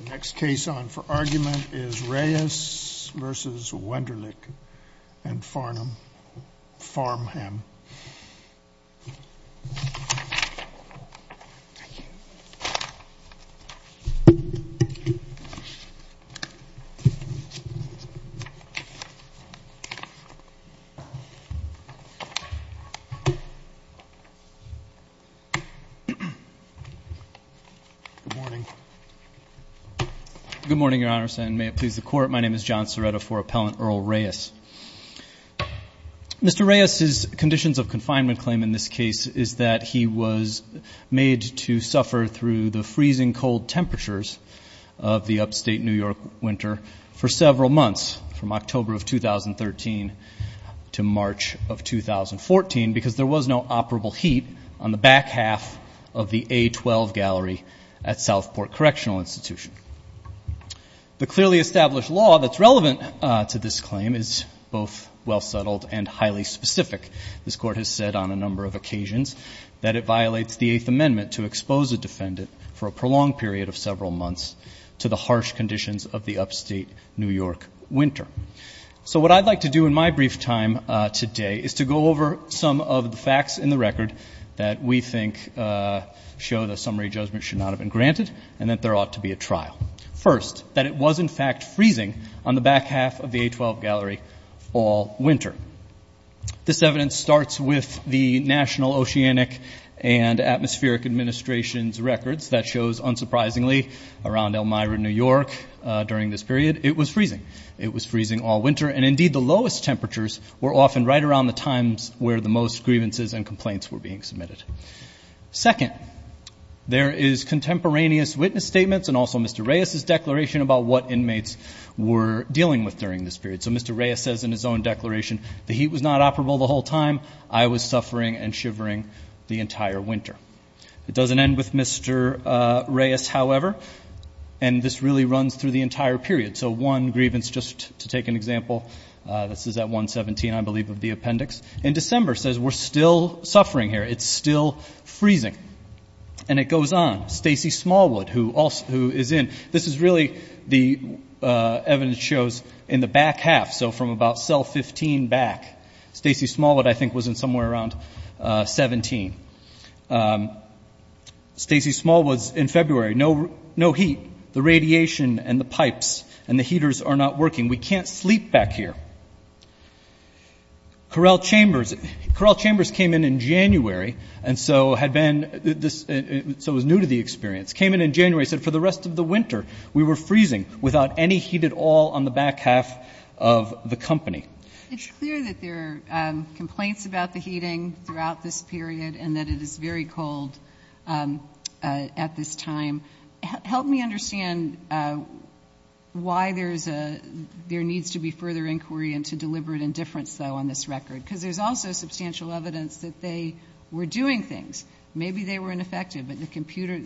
The next case on for argument is Reyes v. Wenderlich and Farnham. Good morning, Your Honor, and may it please the Court. My name is John Ceretto for Appellant Earl Reyes. Mr. Reyes's conditions of confinement claim in this case is that he was made to suffer through the freezing cold temperatures of the upstate New York winter for several months, from October of 2013 to March of 2014, because there was no operable heat on the back half of the A-12 gallery at Southport Correctional Institution. The clearly established law that's relevant to this claim is both well-settled and highly specific. This Court has said on a number of occasions that it violates the Eighth Amendment to expose a defendant for a prolonged period of several months to the harsh conditions of the upstate New York winter. So what I'd like to do in my brief time today is to go over some of the facts in the record that we think show that summary judgment should not have been granted and that there ought to be a trial. First, that it was, in fact, freezing on the back half of the A-12 gallery all winter. This evidence starts with the National Oceanic and Atmospheric Administration's records that shows, unsurprisingly, around Elmira, New York, during this period, it was freezing. It was freezing all winter. And, indeed, the lowest temperatures were often right around the times where the most grievances and complaints were being submitted. Second, there is contemporaneous witness statements and also Mr. Reyes's declaration about what inmates were dealing with during this period. So Mr. Reyes says in his own declaration, the heat was not operable the whole time. I was suffering and shivering the entire winter. It doesn't end with Mr. Reyes, however, and this really runs through the entire period. So one grievance, just to take an example, this is at 117, I believe, of the appendix. And December says we're still suffering here. It's still freezing. And it goes on. Stacey Smallwood, who is in, this is really the evidence shows in the back half, so from about cell 15 back. Stacey Smallwood, I think, was in somewhere around 17. Stacey Smallwood was in February. No heat. The radiation and the pipes and the heaters are not working. We can't sleep back here. Correll Chambers, Correll Chambers came in in January and so had been, so was new to the experience, came in in January, said for the rest of the winter we were freezing without any heat at all on the back half of the company. It's clear that there are complaints about the heating throughout this period and that it is very cold at this time. Help me understand why there needs to be further inquiry into deliberate indifference, though, on this record, because there's also substantial evidence that they were doing things. Maybe they were ineffective,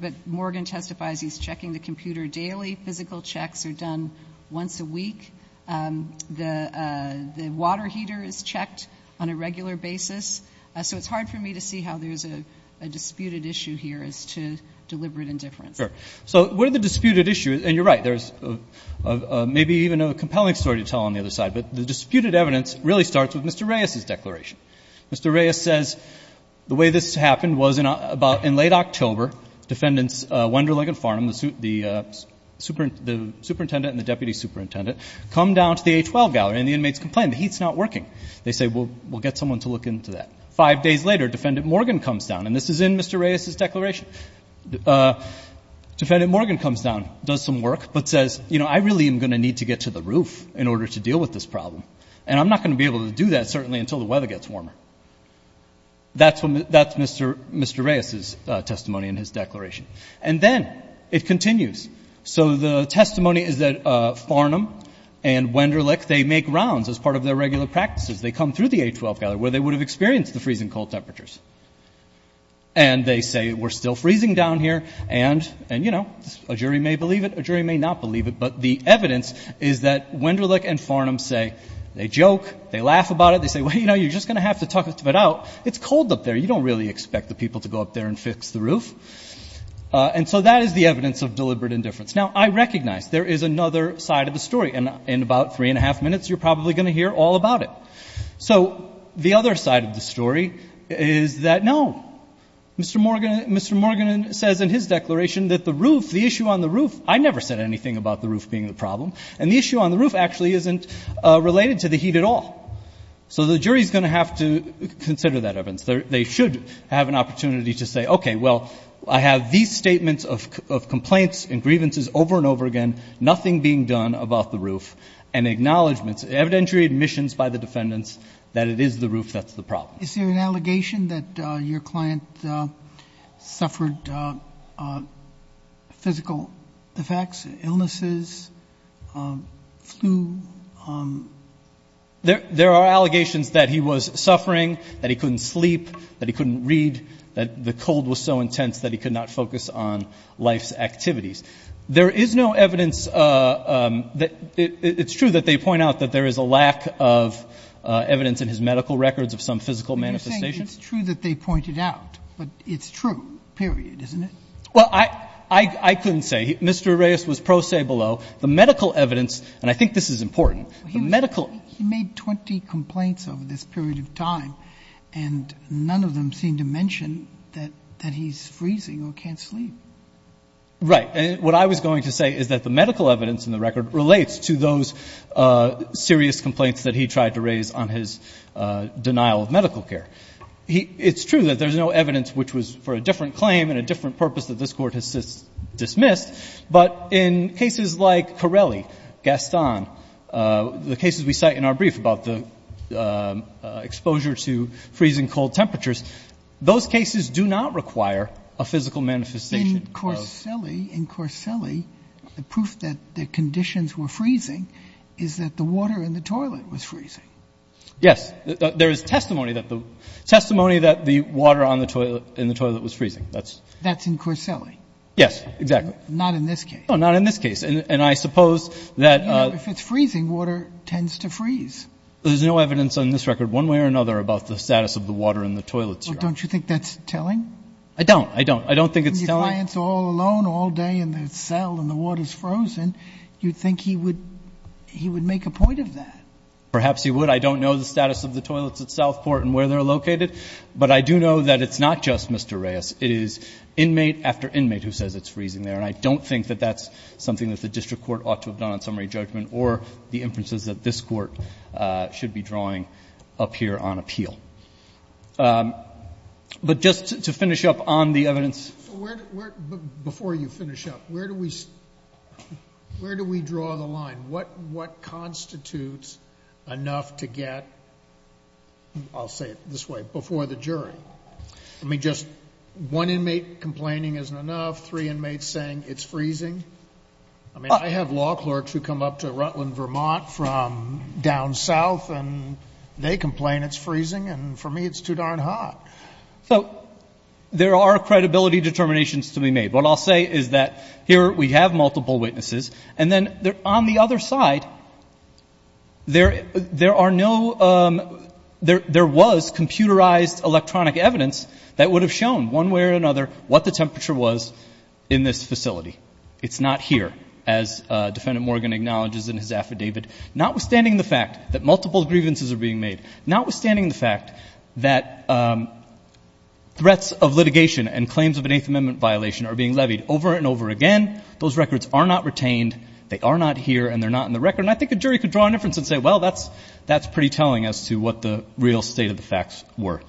but Morgan testifies he's checking the computer daily. Physical checks are done once a week. The water heater is checked on a regular basis. So it's hard for me to see how there's a disputed issue here as to deliberate indifference. Sure. So what are the disputed issues? And you're right, there's maybe even a compelling story to tell on the other side, but the disputed evidence really starts with Mr. Reyes's declaration. Mr. Reyes says the way this happened was about in late October, defendants Wenderling and Farnham, the superintendent and the deputy superintendent, come down to the A12 gallery and the inmates complain the heat's not working. They say, well, we'll get someone to look into that. Five days later, Defendant Morgan comes down, and this is in Mr. Reyes's declaration. Defendant Morgan comes down, does some work, but says, you know, I really am going to need to get to the roof in order to deal with this problem, and I'm not going to be able to do that, certainly, until the weather gets warmer. That's Mr. Reyes's testimony in his declaration. And then it continues. So the testimony is that Farnham and Wenderling, they make rounds as part of their regular practices. They come through the A12 gallery where they would have experienced the freezing cold temperatures. And they say, we're still freezing down here, and, you know, a jury may believe it, a jury may not believe it, but the evidence is that Wenderling and Farnham say they joke, they laugh about it, they say, well, you know, you're just going to have to talk it out. It's cold up there. You don't really expect the people to go up there and fix the roof. And so that is the evidence of deliberate indifference. Now, I recognize there is another side of the story, and in about three and a half minutes you're probably going to hear all about it. So the other side of the story is that, no, Mr. Morgan says in his declaration that the roof, the issue on the roof, I never said anything about the roof being the problem, and the issue on the roof actually isn't related to the heat at all. So the jury is going to have to consider that evidence. They should have an opportunity to say, okay, well, I have these statements of complaints and grievances over and over again, nothing being done about the roof, and acknowledgments, evidentiary admissions by the defendants that it is the roof that's the problem. Is there an allegation that your client suffered physical effects, illnesses, flu? There are allegations that he was suffering, that he couldn't sleep, that he couldn't read, that the cold was so intense that he could not focus on life's activities. There is no evidence that it's true that they point out that there is a lack of evidence in his medical records of some physical manifestations. But you're saying it's true that they pointed out, but it's true, period, isn't it? Well, I couldn't say. Mr. Arreaz was pro se below. The medical evidence, and I think this is important. He made 20 complaints over this period of time, and none of them seemed to mention that he's freezing or can't sleep. Right. What I was going to say is that the medical evidence in the record relates to those serious complaints that he tried to raise on his denial of medical care. It's true that there's no evidence which was for a different claim and a different purpose that this Court has dismissed. But in cases like Corelli, Gaston, the cases we cite in our brief about the exposure to freezing cold temperatures, those cases do not require a physical manifestation. But in Corelli, in Corelli, the proof that the conditions were freezing is that the water in the toilet was freezing. Yes. There is testimony that the water in the toilet was freezing. That's in Corelli. Yes, exactly. Not in this case. No, not in this case. And I suppose that — You know, if it's freezing, water tends to freeze. There's no evidence on this record one way or another about the status of the water in the toilet serum. Well, don't you think that's telling? I don't. I don't. I don't think it's telling. If your client's all alone all day in the cell and the water's frozen, you'd think he would make a point of that. Perhaps he would. I don't know the status of the toilets at Southport and where they're located. But I do know that it's not just Mr. Reyes. It is inmate after inmate who says it's freezing there. And I don't think that that's something that the district court ought to have done on summary judgment or the inferences that this Court should be drawing up here on appeal. But just to finish up on the evidence. So where — before you finish up, where do we — where do we draw the line? What constitutes enough to get — I'll say it this way — before the jury? I mean, just one inmate complaining isn't enough, three inmates saying it's freezing? I mean, I have law clerks who come up to Rutland, Vermont, from down south, and they complain it's freezing. And for me, it's too darn hot. So there are credibility determinations to be made. What I'll say is that here we have multiple witnesses. And then on the other side, there are no — there was computerized electronic evidence that would have shown one way or another what the temperature was in this facility. It's not here, as Defendant Morgan acknowledges in his affidavit. Notwithstanding the fact that multiple grievances are being made, notwithstanding the fact that threats of litigation and claims of an Eighth Amendment violation are being levied over and over again, those records are not retained, they are not here, and they're not in the record. And I think a jury could draw a difference and say, well, that's pretty telling as to what the real state of the facts were.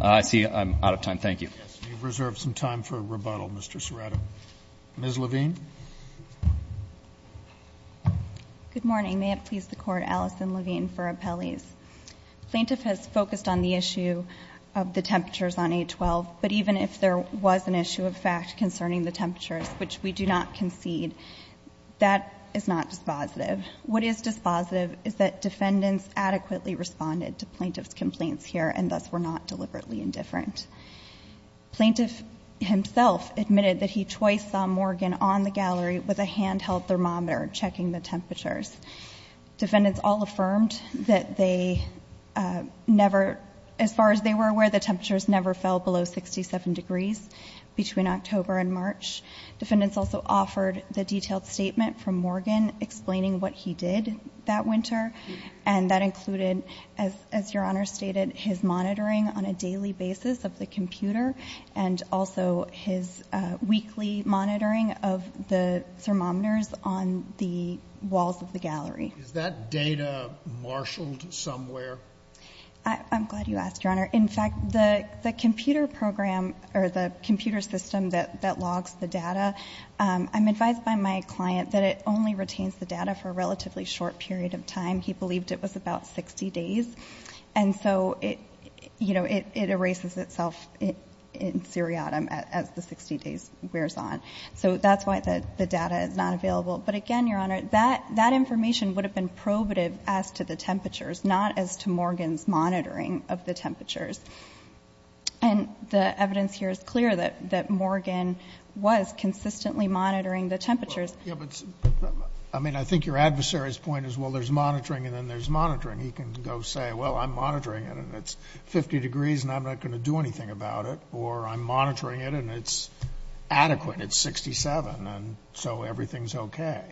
I see I'm out of time. Thank you. Roberts. You've reserved some time for rebuttal, Mr. Serrato. Ms. Levine. Good morning. May it please the Court, Alison Levine for Appellees. Plaintiff has focused on the issue of the temperatures on 812, but even if there was an issue of fact concerning the temperatures, which we do not concede, that is not dispositive. What is dispositive is that defendants adequately responded to plaintiff's complaints here and thus were not deliberately indifferent. Plaintiff himself admitted that he twice saw Morgan on the gallery with a handheld thermometer checking the temperatures. Defendants all affirmed that they never, as far as they were aware, the temperatures never fell below 67 degrees between October and March. Defendants also offered the detailed statement from Morgan explaining what he did that winter, and that included, as Your Honor stated, his monitoring on a daily basis of the computer and also his weekly monitoring of the thermometers on the walls of the gallery. Is that data marshaled somewhere? I'm glad you asked, Your Honor. In fact, the computer program or the computer system that logs the data, I'm advised by my client that it only retains the data for a relatively short period of time. He believed it was about 60 days. And so it, you know, it erases itself in seriatim as the 60 days wears on. So that's why the data is not available. But again, Your Honor, that information would have been probative as to the temperatures, not as to Morgan's monitoring of the temperatures. And the evidence here is clear that Morgan was consistently monitoring the temperatures. Yeah, but I mean, I think your adversary's point is, well, there's monitoring and then there's monitoring. He can go say, well, I'm monitoring it and it's 50 degrees and I'm not going to do anything about it, or I'm monitoring it and it's adequate, it's 67, and so everything's okay.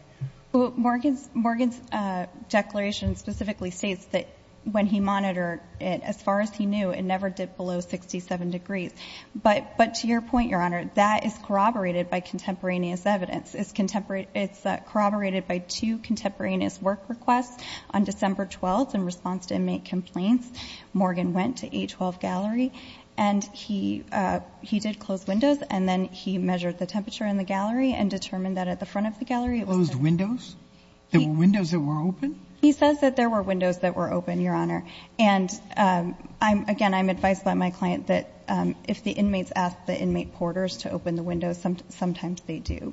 Morgan's declaration specifically states that when he monitored it, as far as he knew, it never dipped below 67 degrees. But to your point, Your Honor, that is corroborated by contemporaneous evidence. It's corroborated by two contemporaneous work requests. On December 12th, in response to inmate complaints, Morgan went to A12 Gallery and he did close windows and then he measured the temperature in the gallery and determined that at the front of the gallery it was the same. Closed windows? There were windows that were open? He says that there were windows that were open, Your Honor. And again, I'm advised by my client that if the inmates ask the inmate porters to open the windows, sometimes they do.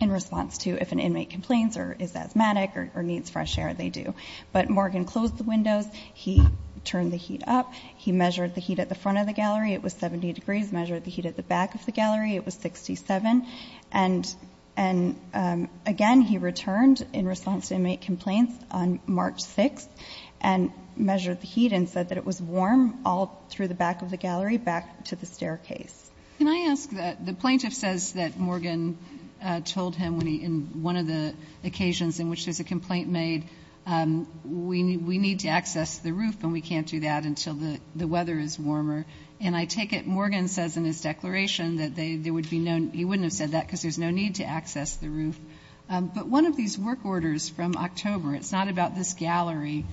In response to if an inmate complains or is asthmatic or needs fresh air, they do. But Morgan closed the windows. He turned the heat up. He measured the heat at the front of the gallery. It was 70 degrees. Measured the heat at the back of the gallery. It was 67. And again, he returned in response to inmate complaints on March 6th and measured the heat and said that it was warm all through the back of the gallery back to the staircase. Can I ask that the plaintiff says that Morgan told him in one of the occasions in which there's a complaint made, we need to access the roof and we can't do that until the weather is warmer. And I take it Morgan says in his declaration that he wouldn't have said that because there's no need to access the roof. But one of these work orders from October, it's not about this gallery,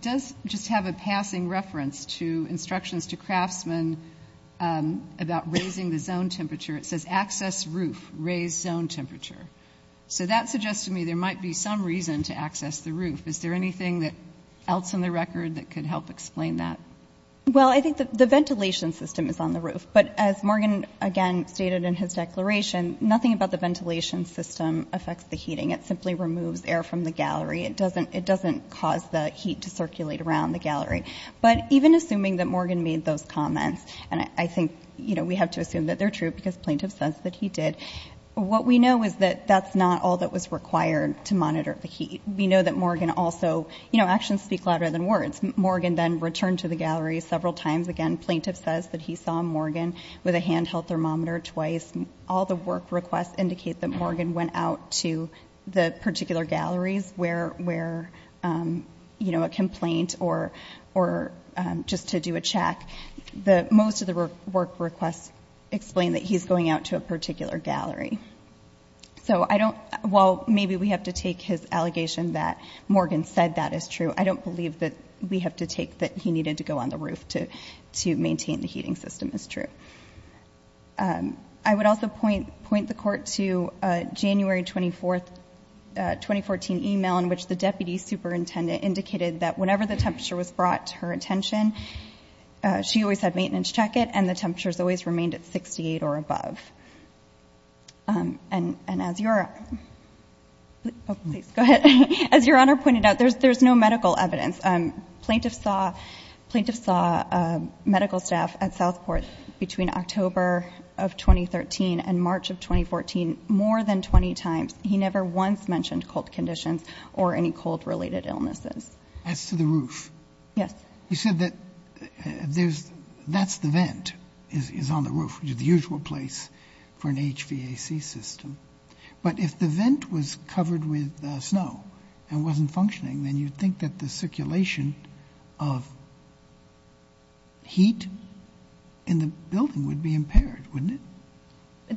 does just have a passing reference to instructions to craftsmen about raising the zone temperature. It says access roof, raise zone temperature. So that suggests to me there might be some reason to access the roof. Is there anything else in the record that could help explain that? Well, I think the ventilation system is on the roof. But as Morgan, again, stated in his declaration, nothing about the ventilation system affects the heating. It simply removes air from the gallery. It doesn't cause the heat to circulate around the gallery. But even assuming that Morgan made those comments, and I think we have to assume that they're true because plaintiff says that he did, what we know is that that's not all that was required to monitor the heat. We know that Morgan also, you know, actions speak louder than words. Morgan then returned to the gallery several times. Again, plaintiff says that he saw Morgan with a handheld thermometer twice. All the work requests indicate that Morgan went out to the particular galleries where, you know, a complaint or just to do a check. Most of the work requests explain that he's going out to a particular gallery. So I don't – well, maybe we have to take his allegation that Morgan said that is true. I don't believe that we have to take that he needed to go on the roof to maintain the heating system is true. I would also point the Court to a January 24, 2014, email in which the deputy superintendent indicated that whenever the temperature was brought to her attention, she always had maintenance check it and the temperatures always remained at 68 or above. And as your – please go ahead. As Your Honor pointed out, there's no medical evidence. Plaintiff saw medical staff at Southport between October of 2013 and March of 2014 more than 20 times. He never once mentioned cold conditions or any cold-related illnesses. As to the roof? Yes. You said that there's – that's the vent is on the roof, which is the usual place for an HVAC system. But if the vent was covered with snow and wasn't functioning, then you'd think that the circulation of heat in the building would be impaired, wouldn't it?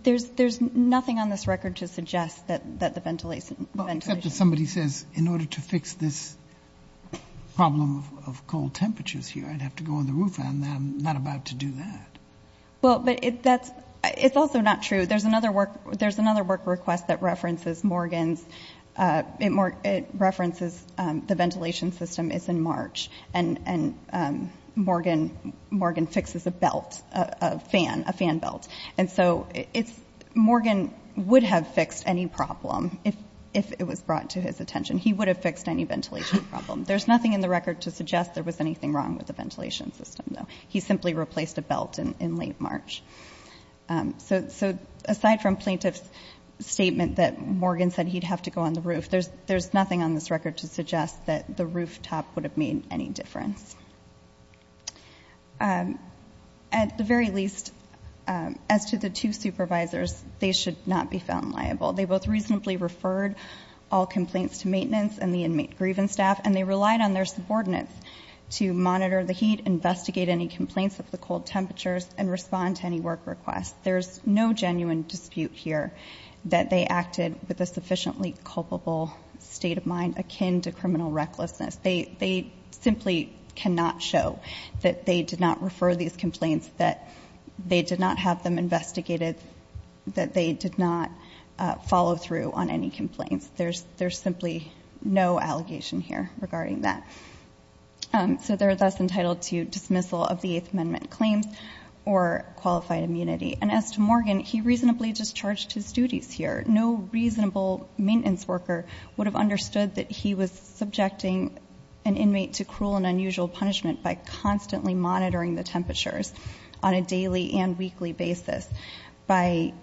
There's nothing on this record to suggest that the ventilation – Well, except that somebody says in order to fix this problem of cold temperatures here, I'd have to go on the roof, and I'm not about to do that. Well, but that's – it's also not true. There's another work request that references Morgan's – it references the ventilation system is in March, and Morgan fixes a belt, a fan belt. And so it's – Morgan would have fixed any problem if it was brought to his attention. He would have fixed any ventilation problem. There's nothing in the record to suggest there was anything wrong with the ventilation system, though. He simply replaced a belt in late March. So aside from plaintiff's statement that Morgan said he'd have to go on the roof, there's nothing on this record to suggest that the rooftop would have made any difference. At the very least, as to the two supervisors, they should not be found liable. They both reasonably referred all complaints to maintenance and the inmate grievance staff, and they relied on their subordinates to monitor the heat, investigate any complaints of the cold temperatures, and respond to any work requests. There's no genuine dispute here that they acted with a sufficiently culpable state of mind akin to criminal recklessness. They simply cannot show that they did not refer these complaints, that they did not have them investigated, that they did not follow through on any complaints. There's simply no allegation here regarding that. So they're thus entitled to dismissal of the Eighth Amendment claims or qualified immunity. And as to Morgan, he reasonably discharged his duties here. No reasonable maintenance worker would have understood that he was subjecting an inmate to cruel and unusual punishment by constantly monitoring the temperatures on a daily and weekly basis, by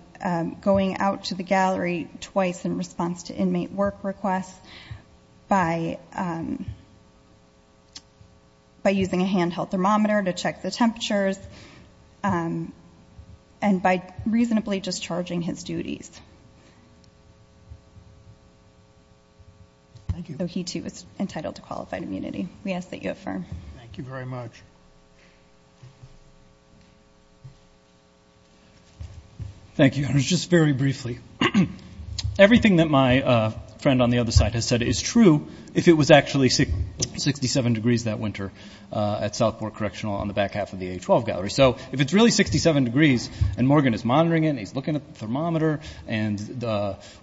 going out to the gallery twice in response to inmate work requests, by using a handheld thermometer to check the temperatures, and by reasonably discharging his duties. So he, too, is entitled to qualified immunity. We ask that you affirm. Thank you very much. Thank you. Just very briefly, everything that my friend on the other side has said is true, if it was actually 67 degrees that winter at Southport Correctional on the back half of the A-12 gallery. So if it's really 67 degrees and Morgan is monitoring it and he's looking at the thermometer and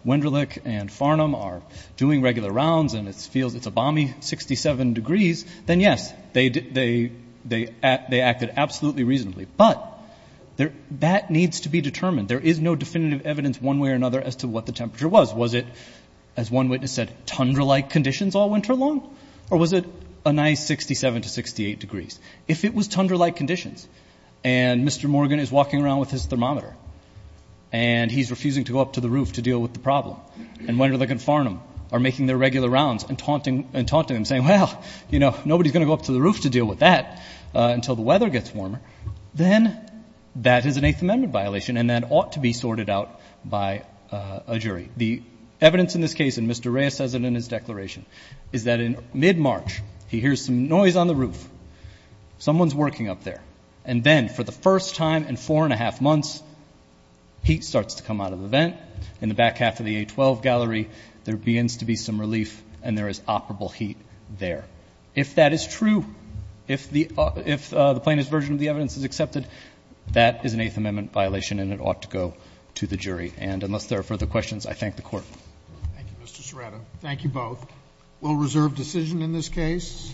Wenderlich and Farnham are doing regular rounds and it feels it's a balmy 67 degrees, then, yes, they acted absolutely reasonably. But that needs to be determined. There is no definitive evidence one way or another as to what the temperature was. Was it, as one witness said, tundra-like conditions all winter long? Or was it a nice 67 to 68 degrees? If it was tundra-like conditions and Mr. Morgan is walking around with his thermometer and he's refusing to go up to the roof to deal with the problem, and Wenderlich and Farnham are making their regular rounds and taunting him, saying, well, you know, nobody's going to go up to the roof to deal with that until the weather gets warmer, then that is an Eighth Amendment violation and that ought to be sorted out by a jury. The evidence in this case, and Mr. Reyes says it in his declaration, is that in mid-March he hears some noise on the roof. Someone's working up there. And then for the first time in four and a half months, heat starts to come out of the vent. In the back half of the A-12 gallery, there begins to be some relief and there is operable heat there. If that is true, if the plaintiff's version of the evidence is accepted, that is an Eighth Amendment violation and it ought to go to the jury. And unless there are further questions, I thank the Court. Thank you, Mr. Serrato. Thank you both. We'll reserve decision in this case.